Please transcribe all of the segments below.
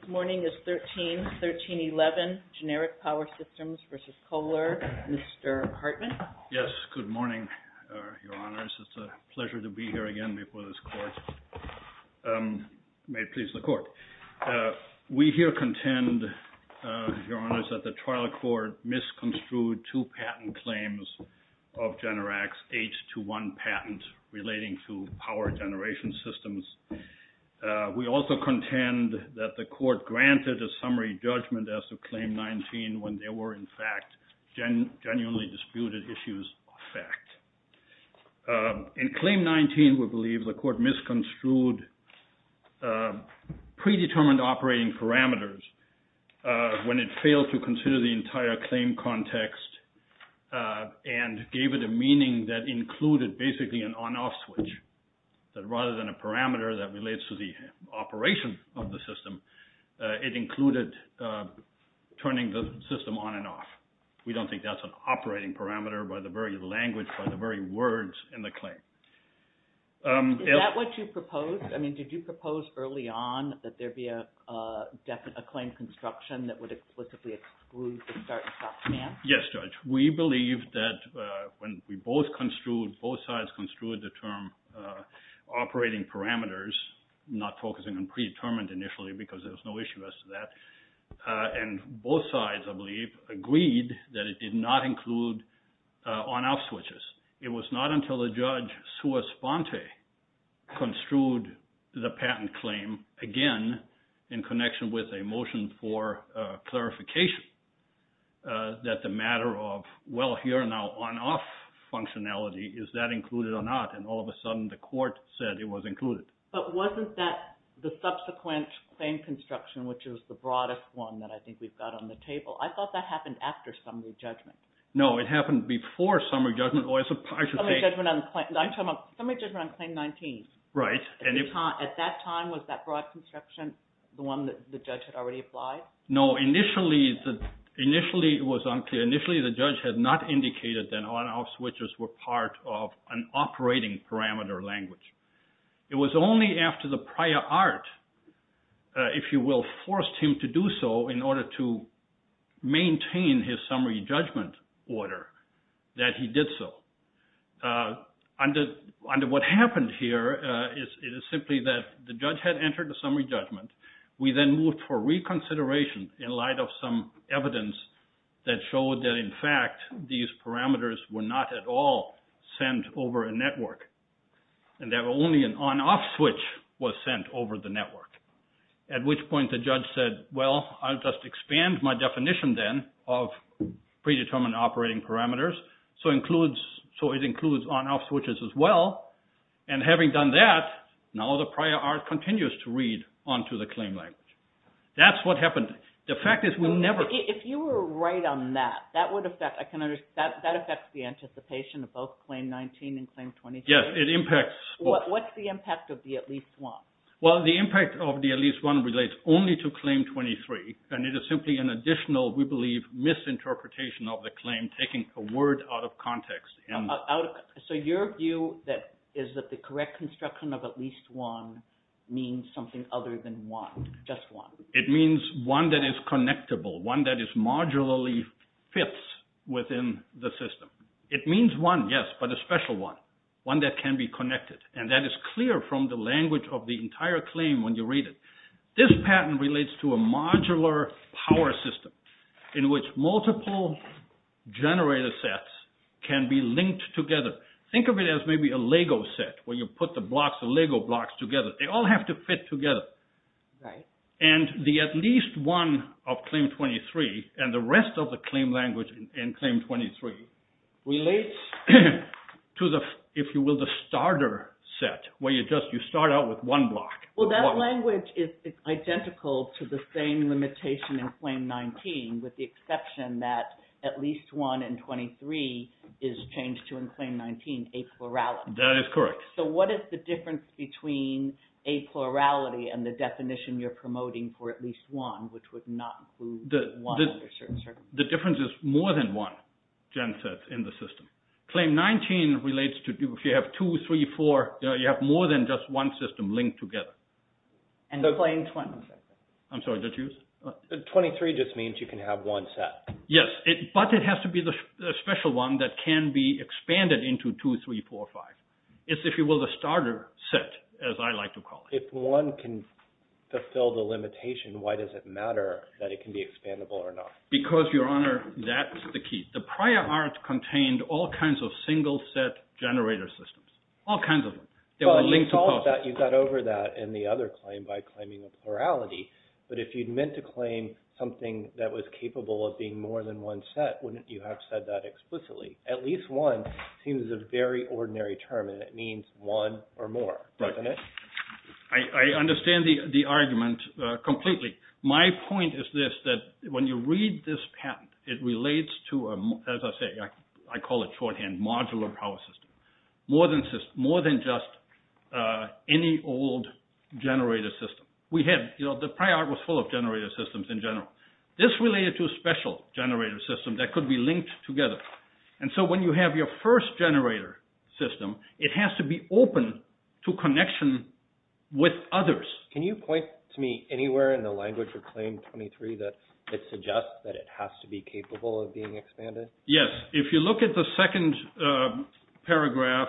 This morning is 13-13-11, Generic Power Systems v. Kohler. Mr. Hartman. Yes, good morning, Your Honors. It's a pleasure to be here again before this Court. May it please the Court. We here contend, Your Honors, that the trial court misconstrued two patent claims of Generac's H21 patent relating to power generation systems. We also contend that the Court granted a summary judgment as to Claim 19 when there were, in fact, genuinely disputed issues of fact. In Claim 19, we believe the Court misconstrued predetermined operating parameters when it failed to consider the entire claim context and gave it a meaning that included basically an on-off switch. Rather than a parameter that relates to the operation of the system, it included turning the system on and off. We don't think that's an operating parameter by the very language, by the very words in the claim. Is that what you proposed? I mean, did you propose early on that there be a claim construction that would explicitly exclude the start and stop stance? Yes, Judge. We believe that when we both construed, both sides construed the term operating parameters, not focusing on predetermined initially, because there was no issue as to that, and both sides, I believe, agreed that it did not include on-off switches. It was not until the judge, Sue Esponte, construed the patent claim, again, in connection with a motion for clarification, that the matter of, well, here now on-off functionality, is that included or not? And all of a sudden, the Court said it was included. But wasn't that the subsequent claim construction, which is the broadest one that I think we've got on the table? I thought that happened after summary judgment. No, it happened before summary judgment. Summary judgment on claim 19. Right. At that time, was that broad construction the one that the judge had already applied? No, initially, it was unclear. Initially, the judge had not indicated that on-off switches were part of an operating parameter language. It was only after the prior art, if you will, forced him to do so in order to maintain his summary judgment order that he did so. Under what happened here, it is simply that the judge had entered the summary judgment. We then moved for reconsideration in light of some evidence that showed that, in fact, these parameters were not at all sent over a network. And that only an on-off switch was sent over the network. At which point the judge said, well, I'll just expand my definition then of predetermined operating parameters, so it includes on-off switches as well. And having done that, now the prior art continues to read on to the claim language. That's what happened. If you were right on that, that affects the anticipation of both claim 19 and claim 23? Yes, it impacts both. What's the impact of the at least one? Well, the impact of the at least one relates only to claim 23, and it is simply an additional, we believe, misinterpretation of the claim, taking a word out of context. So your view is that the correct construction of at least one means something other than one, just one? It means one that is connectable, one that is modularly fits within the system. It means one, yes, but a special one, one that can be connected. And that is clear from the language of the entire claim when you read it. This patent relates to a modular power system in which multiple generator sets can be linked together. Think of it as maybe a Lego set where you put the blocks, the Lego blocks together. They all have to fit together. And the at least one of claim 23 and the rest of the claim language in claim 23 relates to the, if you will, the starter set where you start out with one block. Well, that language is identical to the same limitation in claim 19 with the exception that at least one in 23 is changed to in claim 19, a plurality. That is correct. So what is the difference between a plurality and the definition you're promoting for at least one, which would not include one under certain circumstances? The difference is more than one gen set in the system. Claim 19 relates to, if you have two, three, four, you have more than just one system linked together. And claim 23? I'm sorry, did you? 23 just means you can have one set. Yes, but it has to be the special one that can be expanded into two, three, four, five. It's, if you will, the starter set, as I like to call it. If one can fulfill the limitation, why does it matter that it can be expandable or not? Because, Your Honor, that's the key. The prior art contained all kinds of single set generator systems, all kinds of them. Well, you got over that in the other claim by claiming a plurality. But if you'd meant to claim something that was capable of being more than one set, wouldn't you have said that explicitly? At least one seems a very ordinary term, and it means one or more, doesn't it? I understand the argument completely. My point is this, that when you read this patent, it relates to, as I say, I call it shorthand, modular power system. More than just any old generator system. We had, you know, the prior art was full of generator systems in general. This related to a special generator system that could be linked together. And so when you have your first generator system, it has to be open to connection with others. Can you point to me anywhere in the language of Claim 23 that suggests that it has to be capable of being expanded? Yes, if you look at the second paragraph,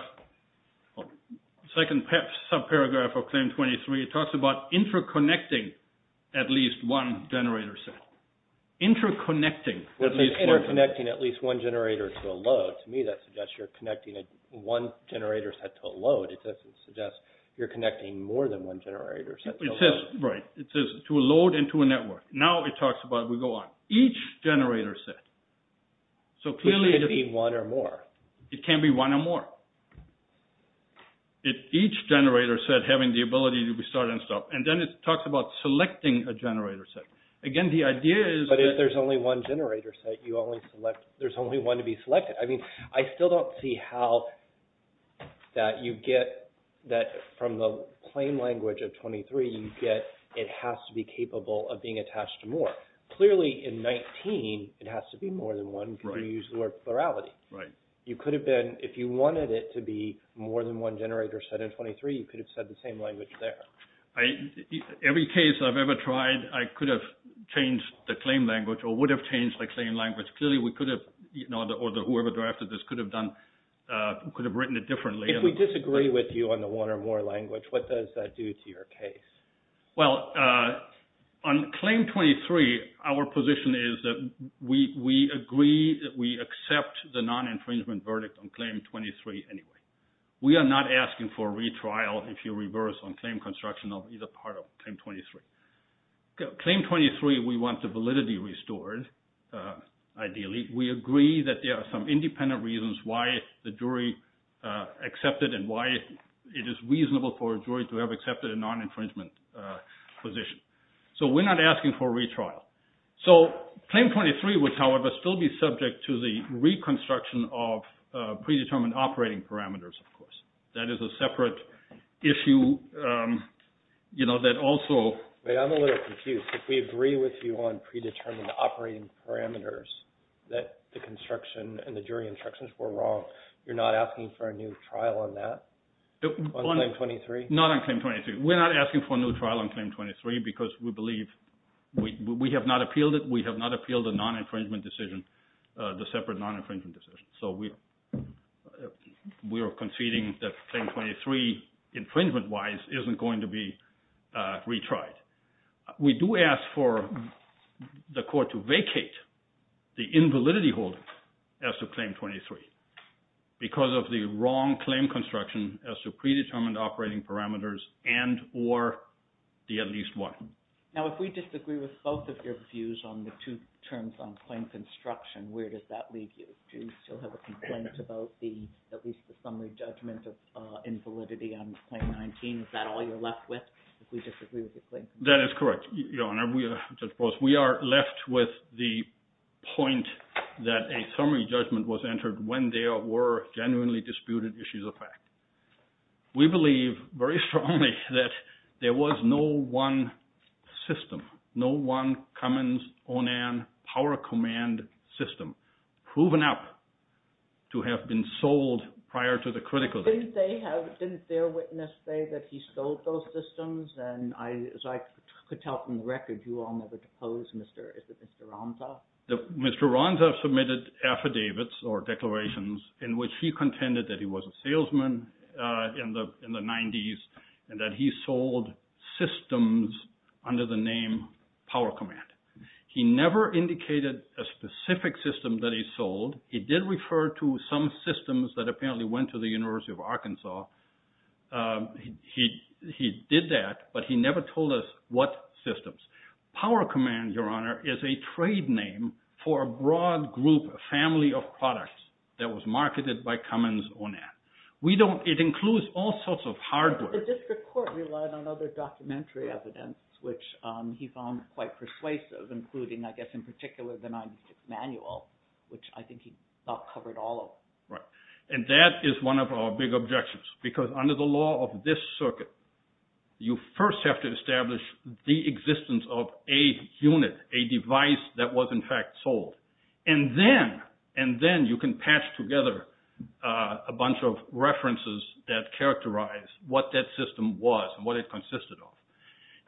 second sub-paragraph of Claim 23, it talks about interconnecting at least one generator set. Interconnecting at least one. Interconnecting at least one generator to a load. To me that suggests you're connecting one generator set to a load. It doesn't suggest you're connecting more than one generator set to a load. It says, right, it says to a load and to a network. Now it talks about, we go on, each generator set. It can be one or more. It can be one or more. Each generator set having the ability to restart and stop. And then it talks about selecting a generator set. Again, the idea is... But if there's only one generator set, you only select, there's only one to be selected. I mean, I still don't see how that you get that from the claim language of 23, you get it has to be capable of being attached to more. Clearly, in 19, it has to be more than one because you used the word plurality. You could have been, if you wanted it to be more than one generator set in 23, you could have said the same language there. Every case I've ever tried, I could have changed the claim language or would have changed the claim language. Clearly, we could have, or whoever drafted this could have done, could have written it differently. If we disagree with you on the one or more language, what does that do to your case? Well, on claim 23, our position is that we agree that we accept the non-infringement verdict on claim 23 anyway. We are not asking for a retrial if you reverse on claim construction of either part of claim 23. Claim 23, we want the validity restored, ideally. We agree that there are some independent reasons why the jury accepted and why it is reasonable for a jury to have accepted a non-infringement position. So we're not asking for a retrial. So claim 23 would, however, still be subject to the reconstruction of predetermined operating parameters, of course. That is a separate issue that also… I'm a little confused. If we agree with you on predetermined operating parameters that the construction and the jury instructions were wrong, you're not asking for a new trial on that? On claim 23? Not on claim 23. We're not asking for a new trial on claim 23 because we believe we have not appealed it. We have not appealed the non-infringement decision, the separate non-infringement decision. So we are conceding that claim 23 infringement-wise isn't going to be retried. We do ask for the court to vacate the invalidity holdings as to claim 23 because of the wrong claim construction as to predetermined operating parameters and or the at least one. Now if we disagree with both of your views on the two terms on claim construction, where does that leave you? Do you still have a complaint about the at least a summary judgment of invalidity on claim 19? Is that all you're left with if we disagree with the claim construction? That is correct, Your Honor. We are left with the point that a summary judgment was entered when there were genuinely disputed issues of fact. We believe very strongly that there was no one system, no one Cummins-O'Neill Power Command system proven up to have been sold prior to the critical date. Didn't their witness say that he sold those systems? And as I could tell from the record, you all never deposed Mr. Ronsoff. Mr. Ronsoff submitted affidavits or declarations in which he contended that he was a salesman in the 90s and that he sold systems under the name Power Command. He never indicated a specific system that he sold. He did refer to some systems that apparently went to the University of Arkansas. He did that, but he never told us what systems. Power Command, Your Honor, is a trade name for a broad group, a family of products that was marketed by Cummins-O'Neill. We don't – it includes all sorts of hardware. The district court relied on other documentary evidence, which he found quite persuasive, including I guess in particular the 90s manual, which I think he covered all of. And that is one of our big objections because under the law of this circuit, you first have to establish the existence of a unit, a device that was in fact sold. And then you can patch together a bunch of references that characterize what that system was and what it consisted of.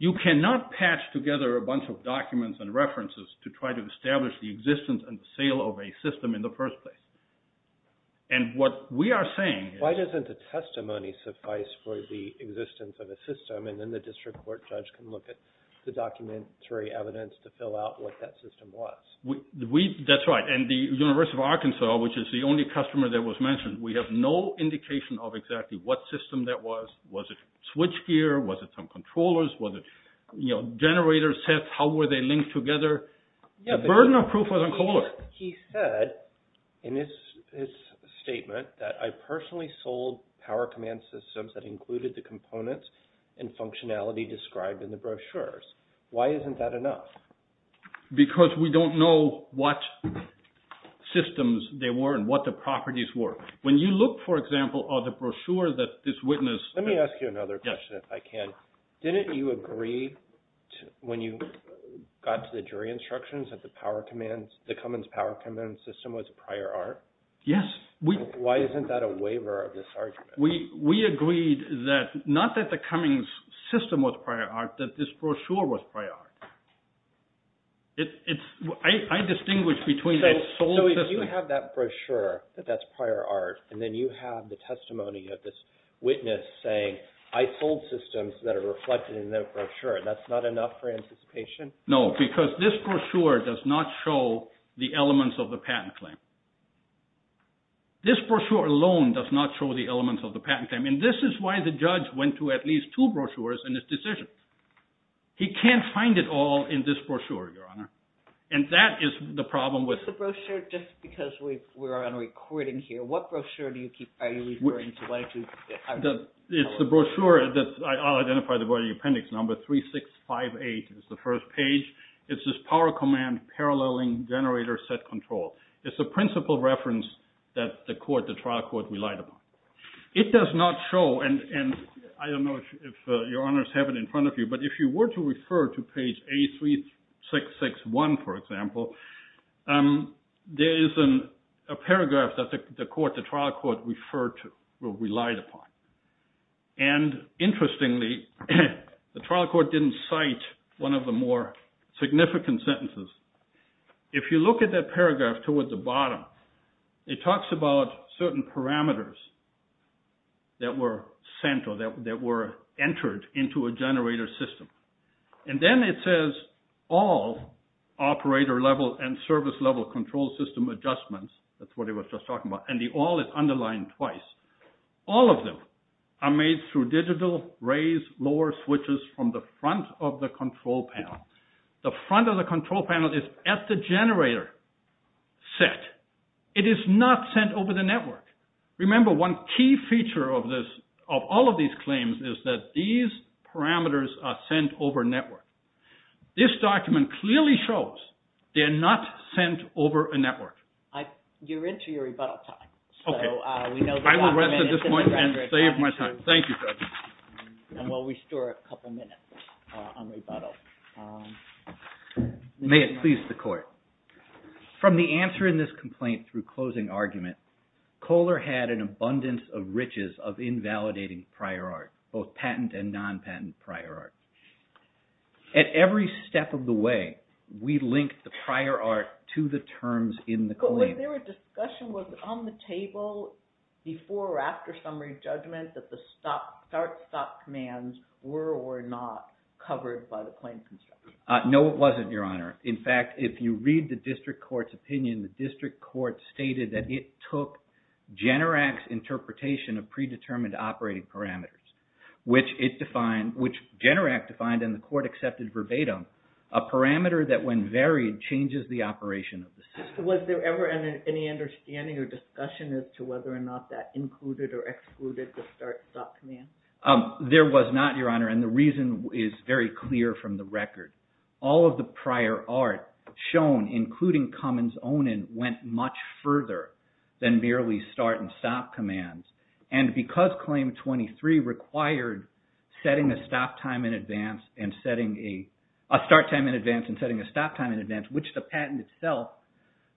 You cannot patch together a bunch of documents and references to try to establish the existence and sale of a system in the first place. And what we are saying is – Why doesn't a testimony suffice for the existence of a system and then the district court judge can look at the documentary evidence to fill out what that system was? That's right. And the University of Arkansas, which is the only customer that was mentioned, we have no indication of exactly what system that was. Was it switchgear? Was it some controllers? Was it generator sets? How were they linked together? The burden of proof was on Kohler. He said in his statement that I personally sold power command systems that included the components and functionality described in the brochures. Why isn't that enough? Because we don't know what systems they were and what the properties were. When you look, for example, at the brochure that this witness – Let me ask you another question if I can. Didn't you agree when you got to the jury instructions that the Cummins power command system was prior art? Yes. Why isn't that a waiver of this argument? We agreed that not that the Cummins system was prior art, that this brochure was prior art. I distinguish between – So if you have that brochure that that's prior art, and then you have the testimony of this witness saying I sold systems that are reflected in the brochure, that's not enough for anticipation? No, because this brochure does not show the elements of the patent claim. This brochure alone does not show the elements of the patent claim. And this is why the judge went to at least two brochures in his decision. He can't find it all in this brochure, Your Honor. And that is the problem with – What is the brochure? Just because we're on a recording here, what brochure are you referring to? It's the brochure that – I'll identify the writing appendix. Number 3658 is the first page. It's this power command paralleling generator set control. It's a principle reference that the trial court relied upon. It does not show – and I don't know if Your Honors have it in front of you. But if you were to refer to page A3661, for example, there is a paragraph that the trial court referred to or relied upon. And interestingly, the trial court didn't cite one of the more significant sentences. If you look at that paragraph towards the bottom, it talks about certain parameters that were sent or that were entered into a generator system. And then it says all operator-level and service-level control system adjustments. That's what it was just talking about. And the all is underlined twice. All of them are made through digital, raised, lower switches from the front of the control panel. The front of the control panel is at the generator set. It is not sent over the network. Remember, one key feature of all of these claims is that these parameters are sent over network. This document clearly shows they're not sent over a network. You're into your rebuttal time. Okay. I will rest at this point and save my time. Thank you, Judge. And we'll restore a couple minutes on rebuttal. May it please the court. From the answer in this complaint through closing argument, Kohler had an abundance of riches of invalidating prior art, both patent and non-patent prior art. At every step of the way, we linked the prior art to the terms in the claim. Was there a discussion, was it on the table before or after summary judgment that the start-stop commands were or not covered by the claim construction? No, it wasn't, Your Honor. In fact, if you read the district court's opinion, the district court stated that it took Generac's interpretation of predetermined operating parameters, which Generac defined and the court accepted verbatim, a parameter that, when varied, changes the operation of the system. Was there ever any understanding or discussion as to whether or not that included or excluded the start-stop command? There was not, Your Honor, and the reason is very clear from the record. All of the prior art shown, including Cummins' own, went much further than merely start and stop commands. And because Claim 23 required a start time in advance and setting a stop time in advance, which the patent itself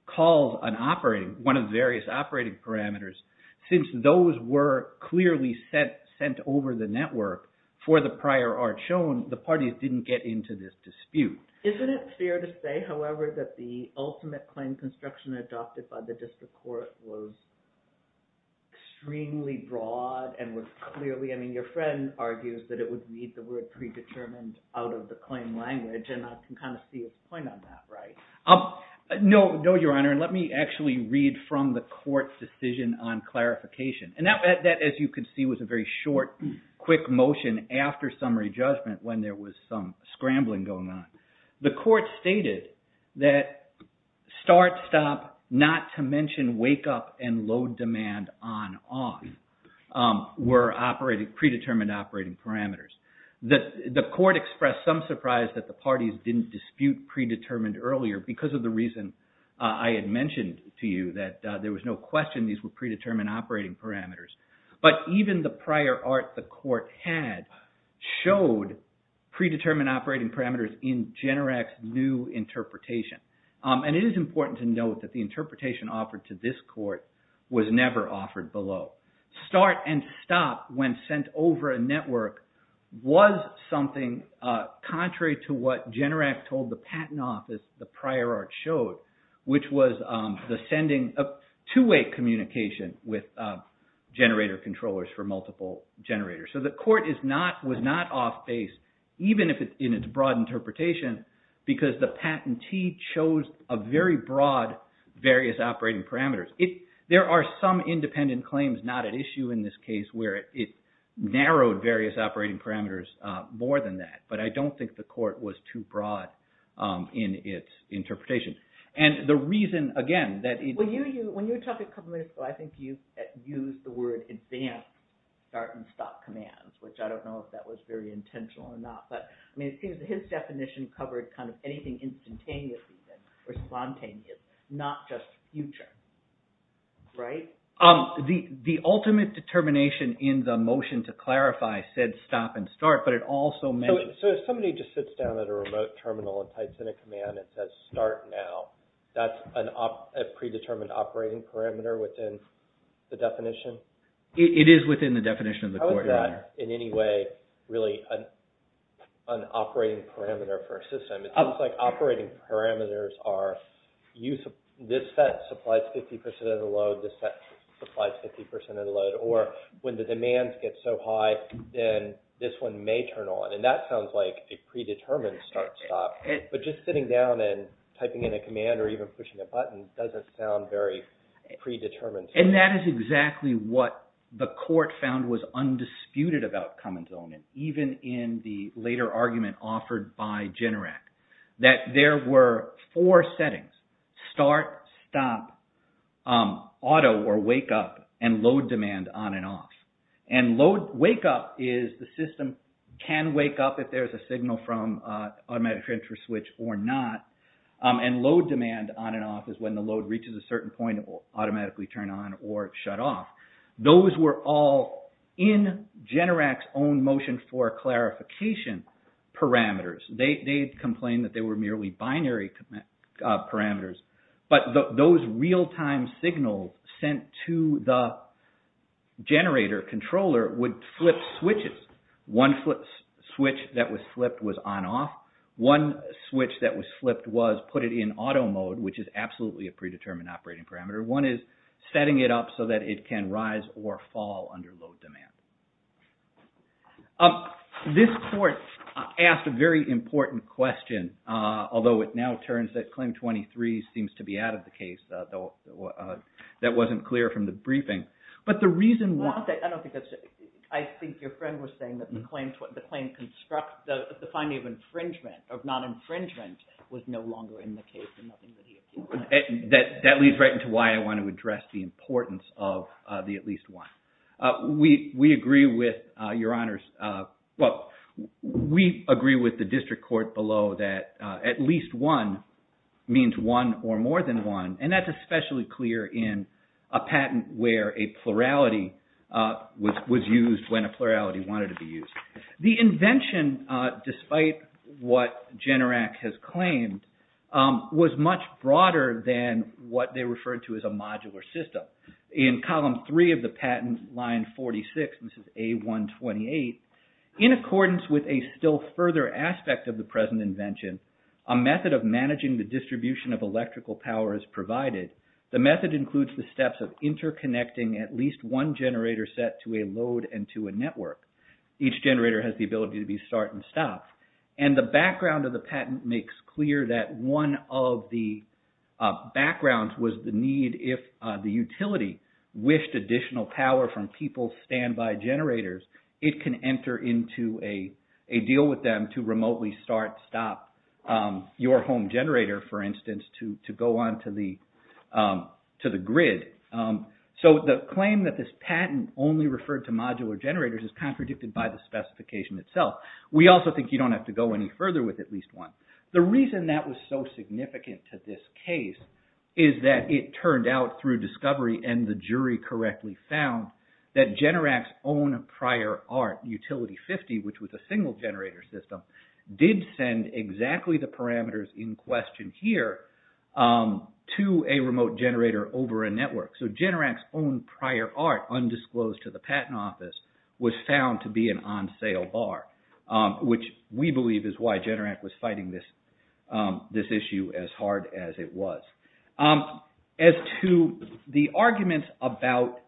calls one of the various operating parameters, since those were clearly sent over the network for the prior art shown, the parties didn't get into this dispute. Isn't it fair to say, however, that the ultimate claim construction adopted by the district court was extremely broad and was clearly – I mean, your friend argues that it would read the word predetermined out of the claim language, and I can kind of see his point on that, right? No, Your Honor, and let me actually read from the court's decision on clarification. And that, as you can see, was a very short, quick motion after summary judgment when there was some scrambling going on. The court stated that start-stop, not to mention wake-up and load-demand on-off were predetermined operating parameters. The court expressed some surprise that the parties didn't dispute predetermined earlier because of the reason I had mentioned to you, that there was no question these were predetermined operating parameters. But even the prior art the court had showed predetermined operating parameters in Generac's new interpretation. And it is important to note that the interpretation offered to this court was never offered below. Start and stop when sent over a network was something contrary to what Generac told the patent office the prior art showed, which was the sending of two-way communication with generator controllers for multiple generators. So the court was not off base, even in its broad interpretation, because the patentee chose a very broad various operating parameters. There are some independent claims not at issue in this case where it narrowed various operating parameters more than that, but I don't think the court was too broad in its interpretation. And the reason, again... When you were talking a couple minutes ago, I think you used the word advanced start and stop commands, which I don't know if that was very intentional or not. But it seems that his definition covered kind of anything instantaneous or spontaneous, not just future, right? The ultimate determination in the motion to clarify said stop and start, but it also mentioned... So if somebody just sits down at a remote terminal and types in a command that says start now, that's a predetermined operating parameter within the definition? It is within the definition of the court, Your Honor. How is that in any way really an operating parameter for a system? It seems like operating parameters are this set supplies 50% of the load, this set supplies 50% of the load. Or when the demands get so high, then this one may turn on. And that sounds like a predetermined start-stop. But just sitting down and typing in a command or even pushing a button doesn't sound very predetermined. And that is exactly what the court found was undisputed about Cummins' element, even in the later argument offered by Generac, that there were four settings, start, stop, auto or wake up, and load demand on and off. And wake up is the system can wake up if there's a signal from automatic transfer switch or not. And load demand on and off is when the load reaches a certain point, it will automatically turn on or shut off. Those were all in Generac's own motion for clarification parameters. They complained that they were merely binary parameters. But those real-time signals sent to the generator controller would flip switches. One switch that was flipped was on-off. One switch that was flipped was put it in auto mode, which is absolutely a predetermined operating parameter. One is setting it up so that it can rise or fall under load demand. This court asked a very important question, although it now turns that Claim 23 seems to be out of the case. That wasn't clear from the briefing. But the reason why... I think your friend was saying that the finding of infringement, of non-infringement, was no longer in the case. That leads right into why I want to address the importance of the at least one. We agree with the district court below that at least one means one or more than one. And that's especially clear in a patent where a plurality was used when a plurality wanted to be used. The invention, despite what Generac has claimed, was much broader than what they referred to as a modular system. In column three of the patent, line 46, this is A128, in accordance with a still further aspect of the present invention, a method of managing the distribution of electrical power is provided. The method includes the steps of interconnecting at least one generator set to a load and to a network. Each generator has the ability to be start and stop. And the background of the patent makes clear that one of the backgrounds was the need, if the utility wished additional power from people's standby generators, it can enter into a deal with them to remotely start, stop your home generator, for instance, to go on to the grid. So the claim that this patent only referred to modular generators is contradicted by the specification itself. We also think you don't have to go any further with at least one. The reason that was so significant to this case is that it turned out through discovery and the jury correctly found that Generac's own prior art, Utility 50, which was a single generator system, did send exactly the parameters in question here to a remote generator over a network. So Generac's own prior art undisclosed to the patent office was found to be an on-sale bar, which we believe is why Generac was fighting this issue as hard as it was. As to the arguments about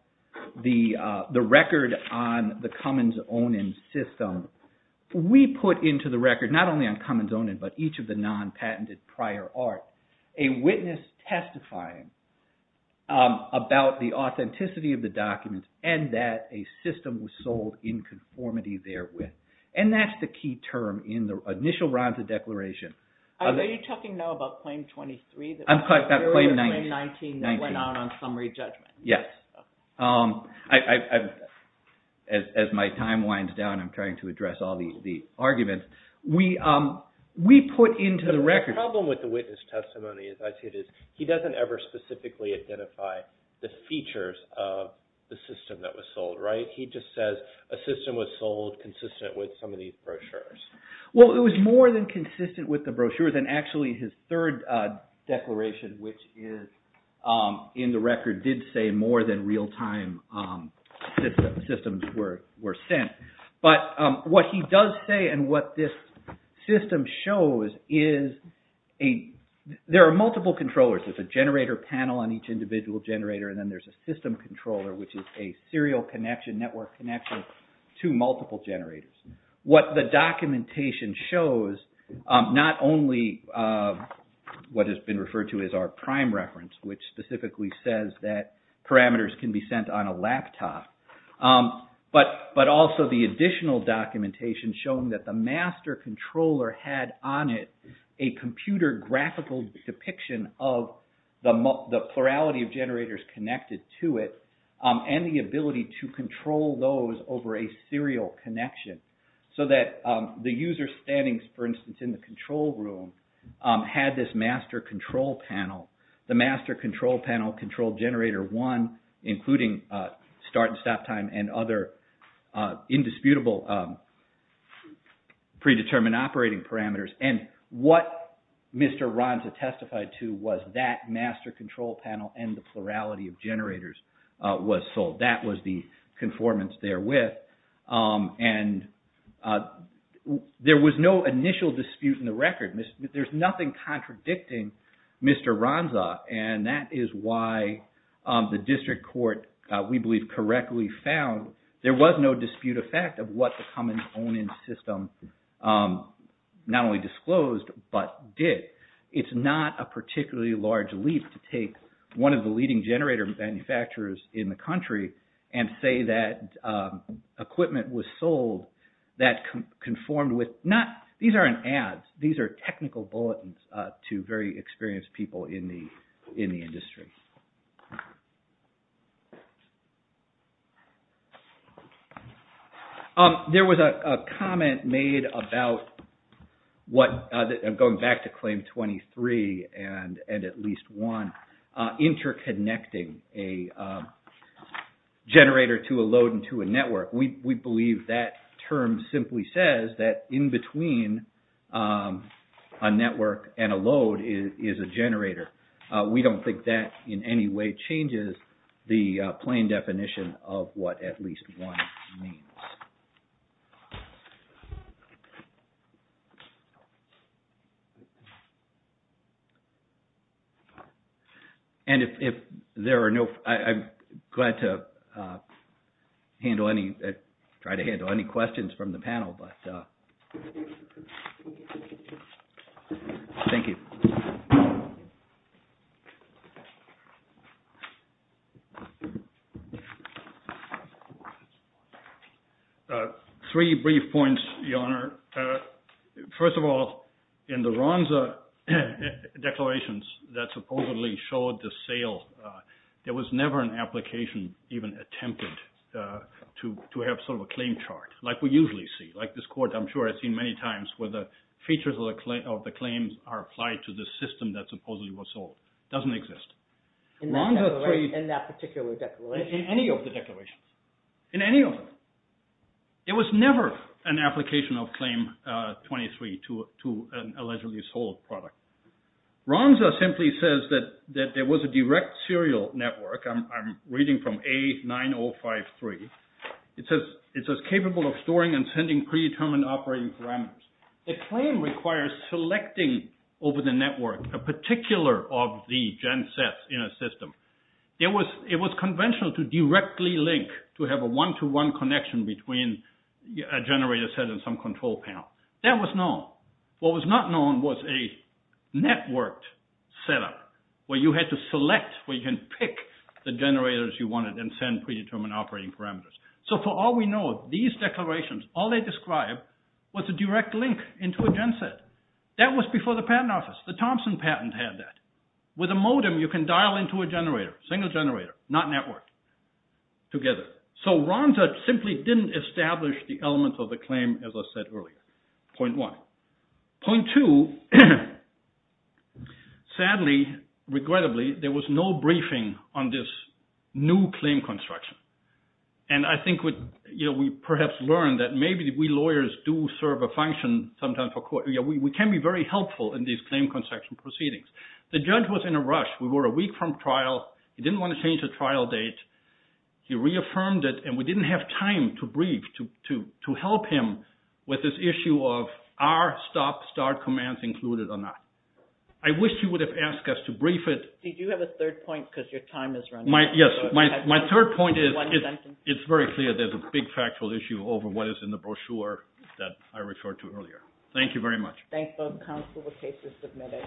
the record on the Cummins-Onan system, we put into the record, not only on Cummins-Onan, but each of the non-patented prior art, a witness testifying about the authenticity of the documents and that a system was sold in conformity therewith. And that's the key term in the initial Ronza Declaration. Are you talking now about Claim 23? I'm talking about Claim 19. Claim 19 that went out on summary judgment. Yes. As my time winds down, I'm trying to address all the arguments. The problem with the witness testimony, as I see it, is he doesn't ever specifically identify the features of the system that was sold. He just says a system was sold consistent with some of these brochures. Well, it was more than consistent with the brochures. And actually, his third declaration, which is in the record, did say more than real-time systems were sent. But what he does say and what this system shows is there are multiple controllers. There's a generator panel on each individual generator, and then there's a system controller, which is a serial connection, network connection to multiple generators. What the documentation shows, not only what has been referred to as our prime reference, which specifically says that parameters can be sent on a laptop, but also the additional documentation showing that the master controller had on it a computer graphical depiction of the plurality of generators connected to it and the ability to control those over a serial connection. So that the user standing, for instance, in the control room had this master control panel. The master control panel controlled generator one, including start and stop time and other indisputable predetermined operating parameters. And what Mr. Ronza testified to was that master control panel and the plurality of generators was sold. That was the conformance therewith. And there was no initial dispute in the record. There's nothing contradicting Mr. Ronza. And that is why the district court, we believe, correctly found there was no dispute effect of what the Cummins own-in system not only disclosed, but did. It's not a particularly large leap to take one of the leading generator manufacturers in the country and say that equipment was sold that conformed with... These aren't ads. These are technical bulletins to very experienced people in the industry. There was a comment made about what, going back to Claim 23 and at least one, interconnecting a generator to a load and to a network. We believe that term simply says that in between a network and a load is a generator. We don't think that in any way changes the plain definition of what at least one means. And if there are no... I'm glad to handle any... try to handle any questions from the panel, but thank you. Three brief points, Your Honor. First of all, in the Ronza declarations that supposedly showed the sale, there was never an application even attempted to have sort of a claim chart like we usually see. Like this court I'm sure I've seen many times where the features of the claims are applied to the system that supposedly was sold. It doesn't exist. In that particular declaration? In any of the declarations. In any of them. There was never an application of Claim 23 to an allegedly sold product. Ronza simply says that there was a direct serial network. I'm reading from A9053. It says capable of storing and sending predetermined operating parameters. The claim requires selecting over the network a particular of the gen sets in a system. It was conventional to directly link to have a one-to-one connection between a generator set and some control panel. That was known. What was not known was a networked setup where you had to select where you can pick the generators you wanted and send predetermined operating parameters. So for all we know, these declarations, all they describe was a direct link into a gen set. That was before the patent office. The Thompson patent had that. With a modem, you can dial into a generator, single generator, not networked together. So Ronza simply didn't establish the element of the claim as I said earlier. Point one. Point two, sadly, regrettably, there was no briefing on this new claim construction. And I think we perhaps learned that maybe we lawyers do serve a function sometimes for court. We can be very helpful in these claim construction proceedings. The judge was in a rush. We were a week from trial. He didn't want to change the trial date. He reaffirmed it and we didn't have time to brief, to help him with this issue of are stop-start commands included or not. I wish he would have asked us to brief it. Did you have a third point because your time is running out? Yes. My third point is it's very clear there's a big factual issue over what is in the brochure that I referred to earlier. Thank you very much. Thank both counsel. The case is submitted.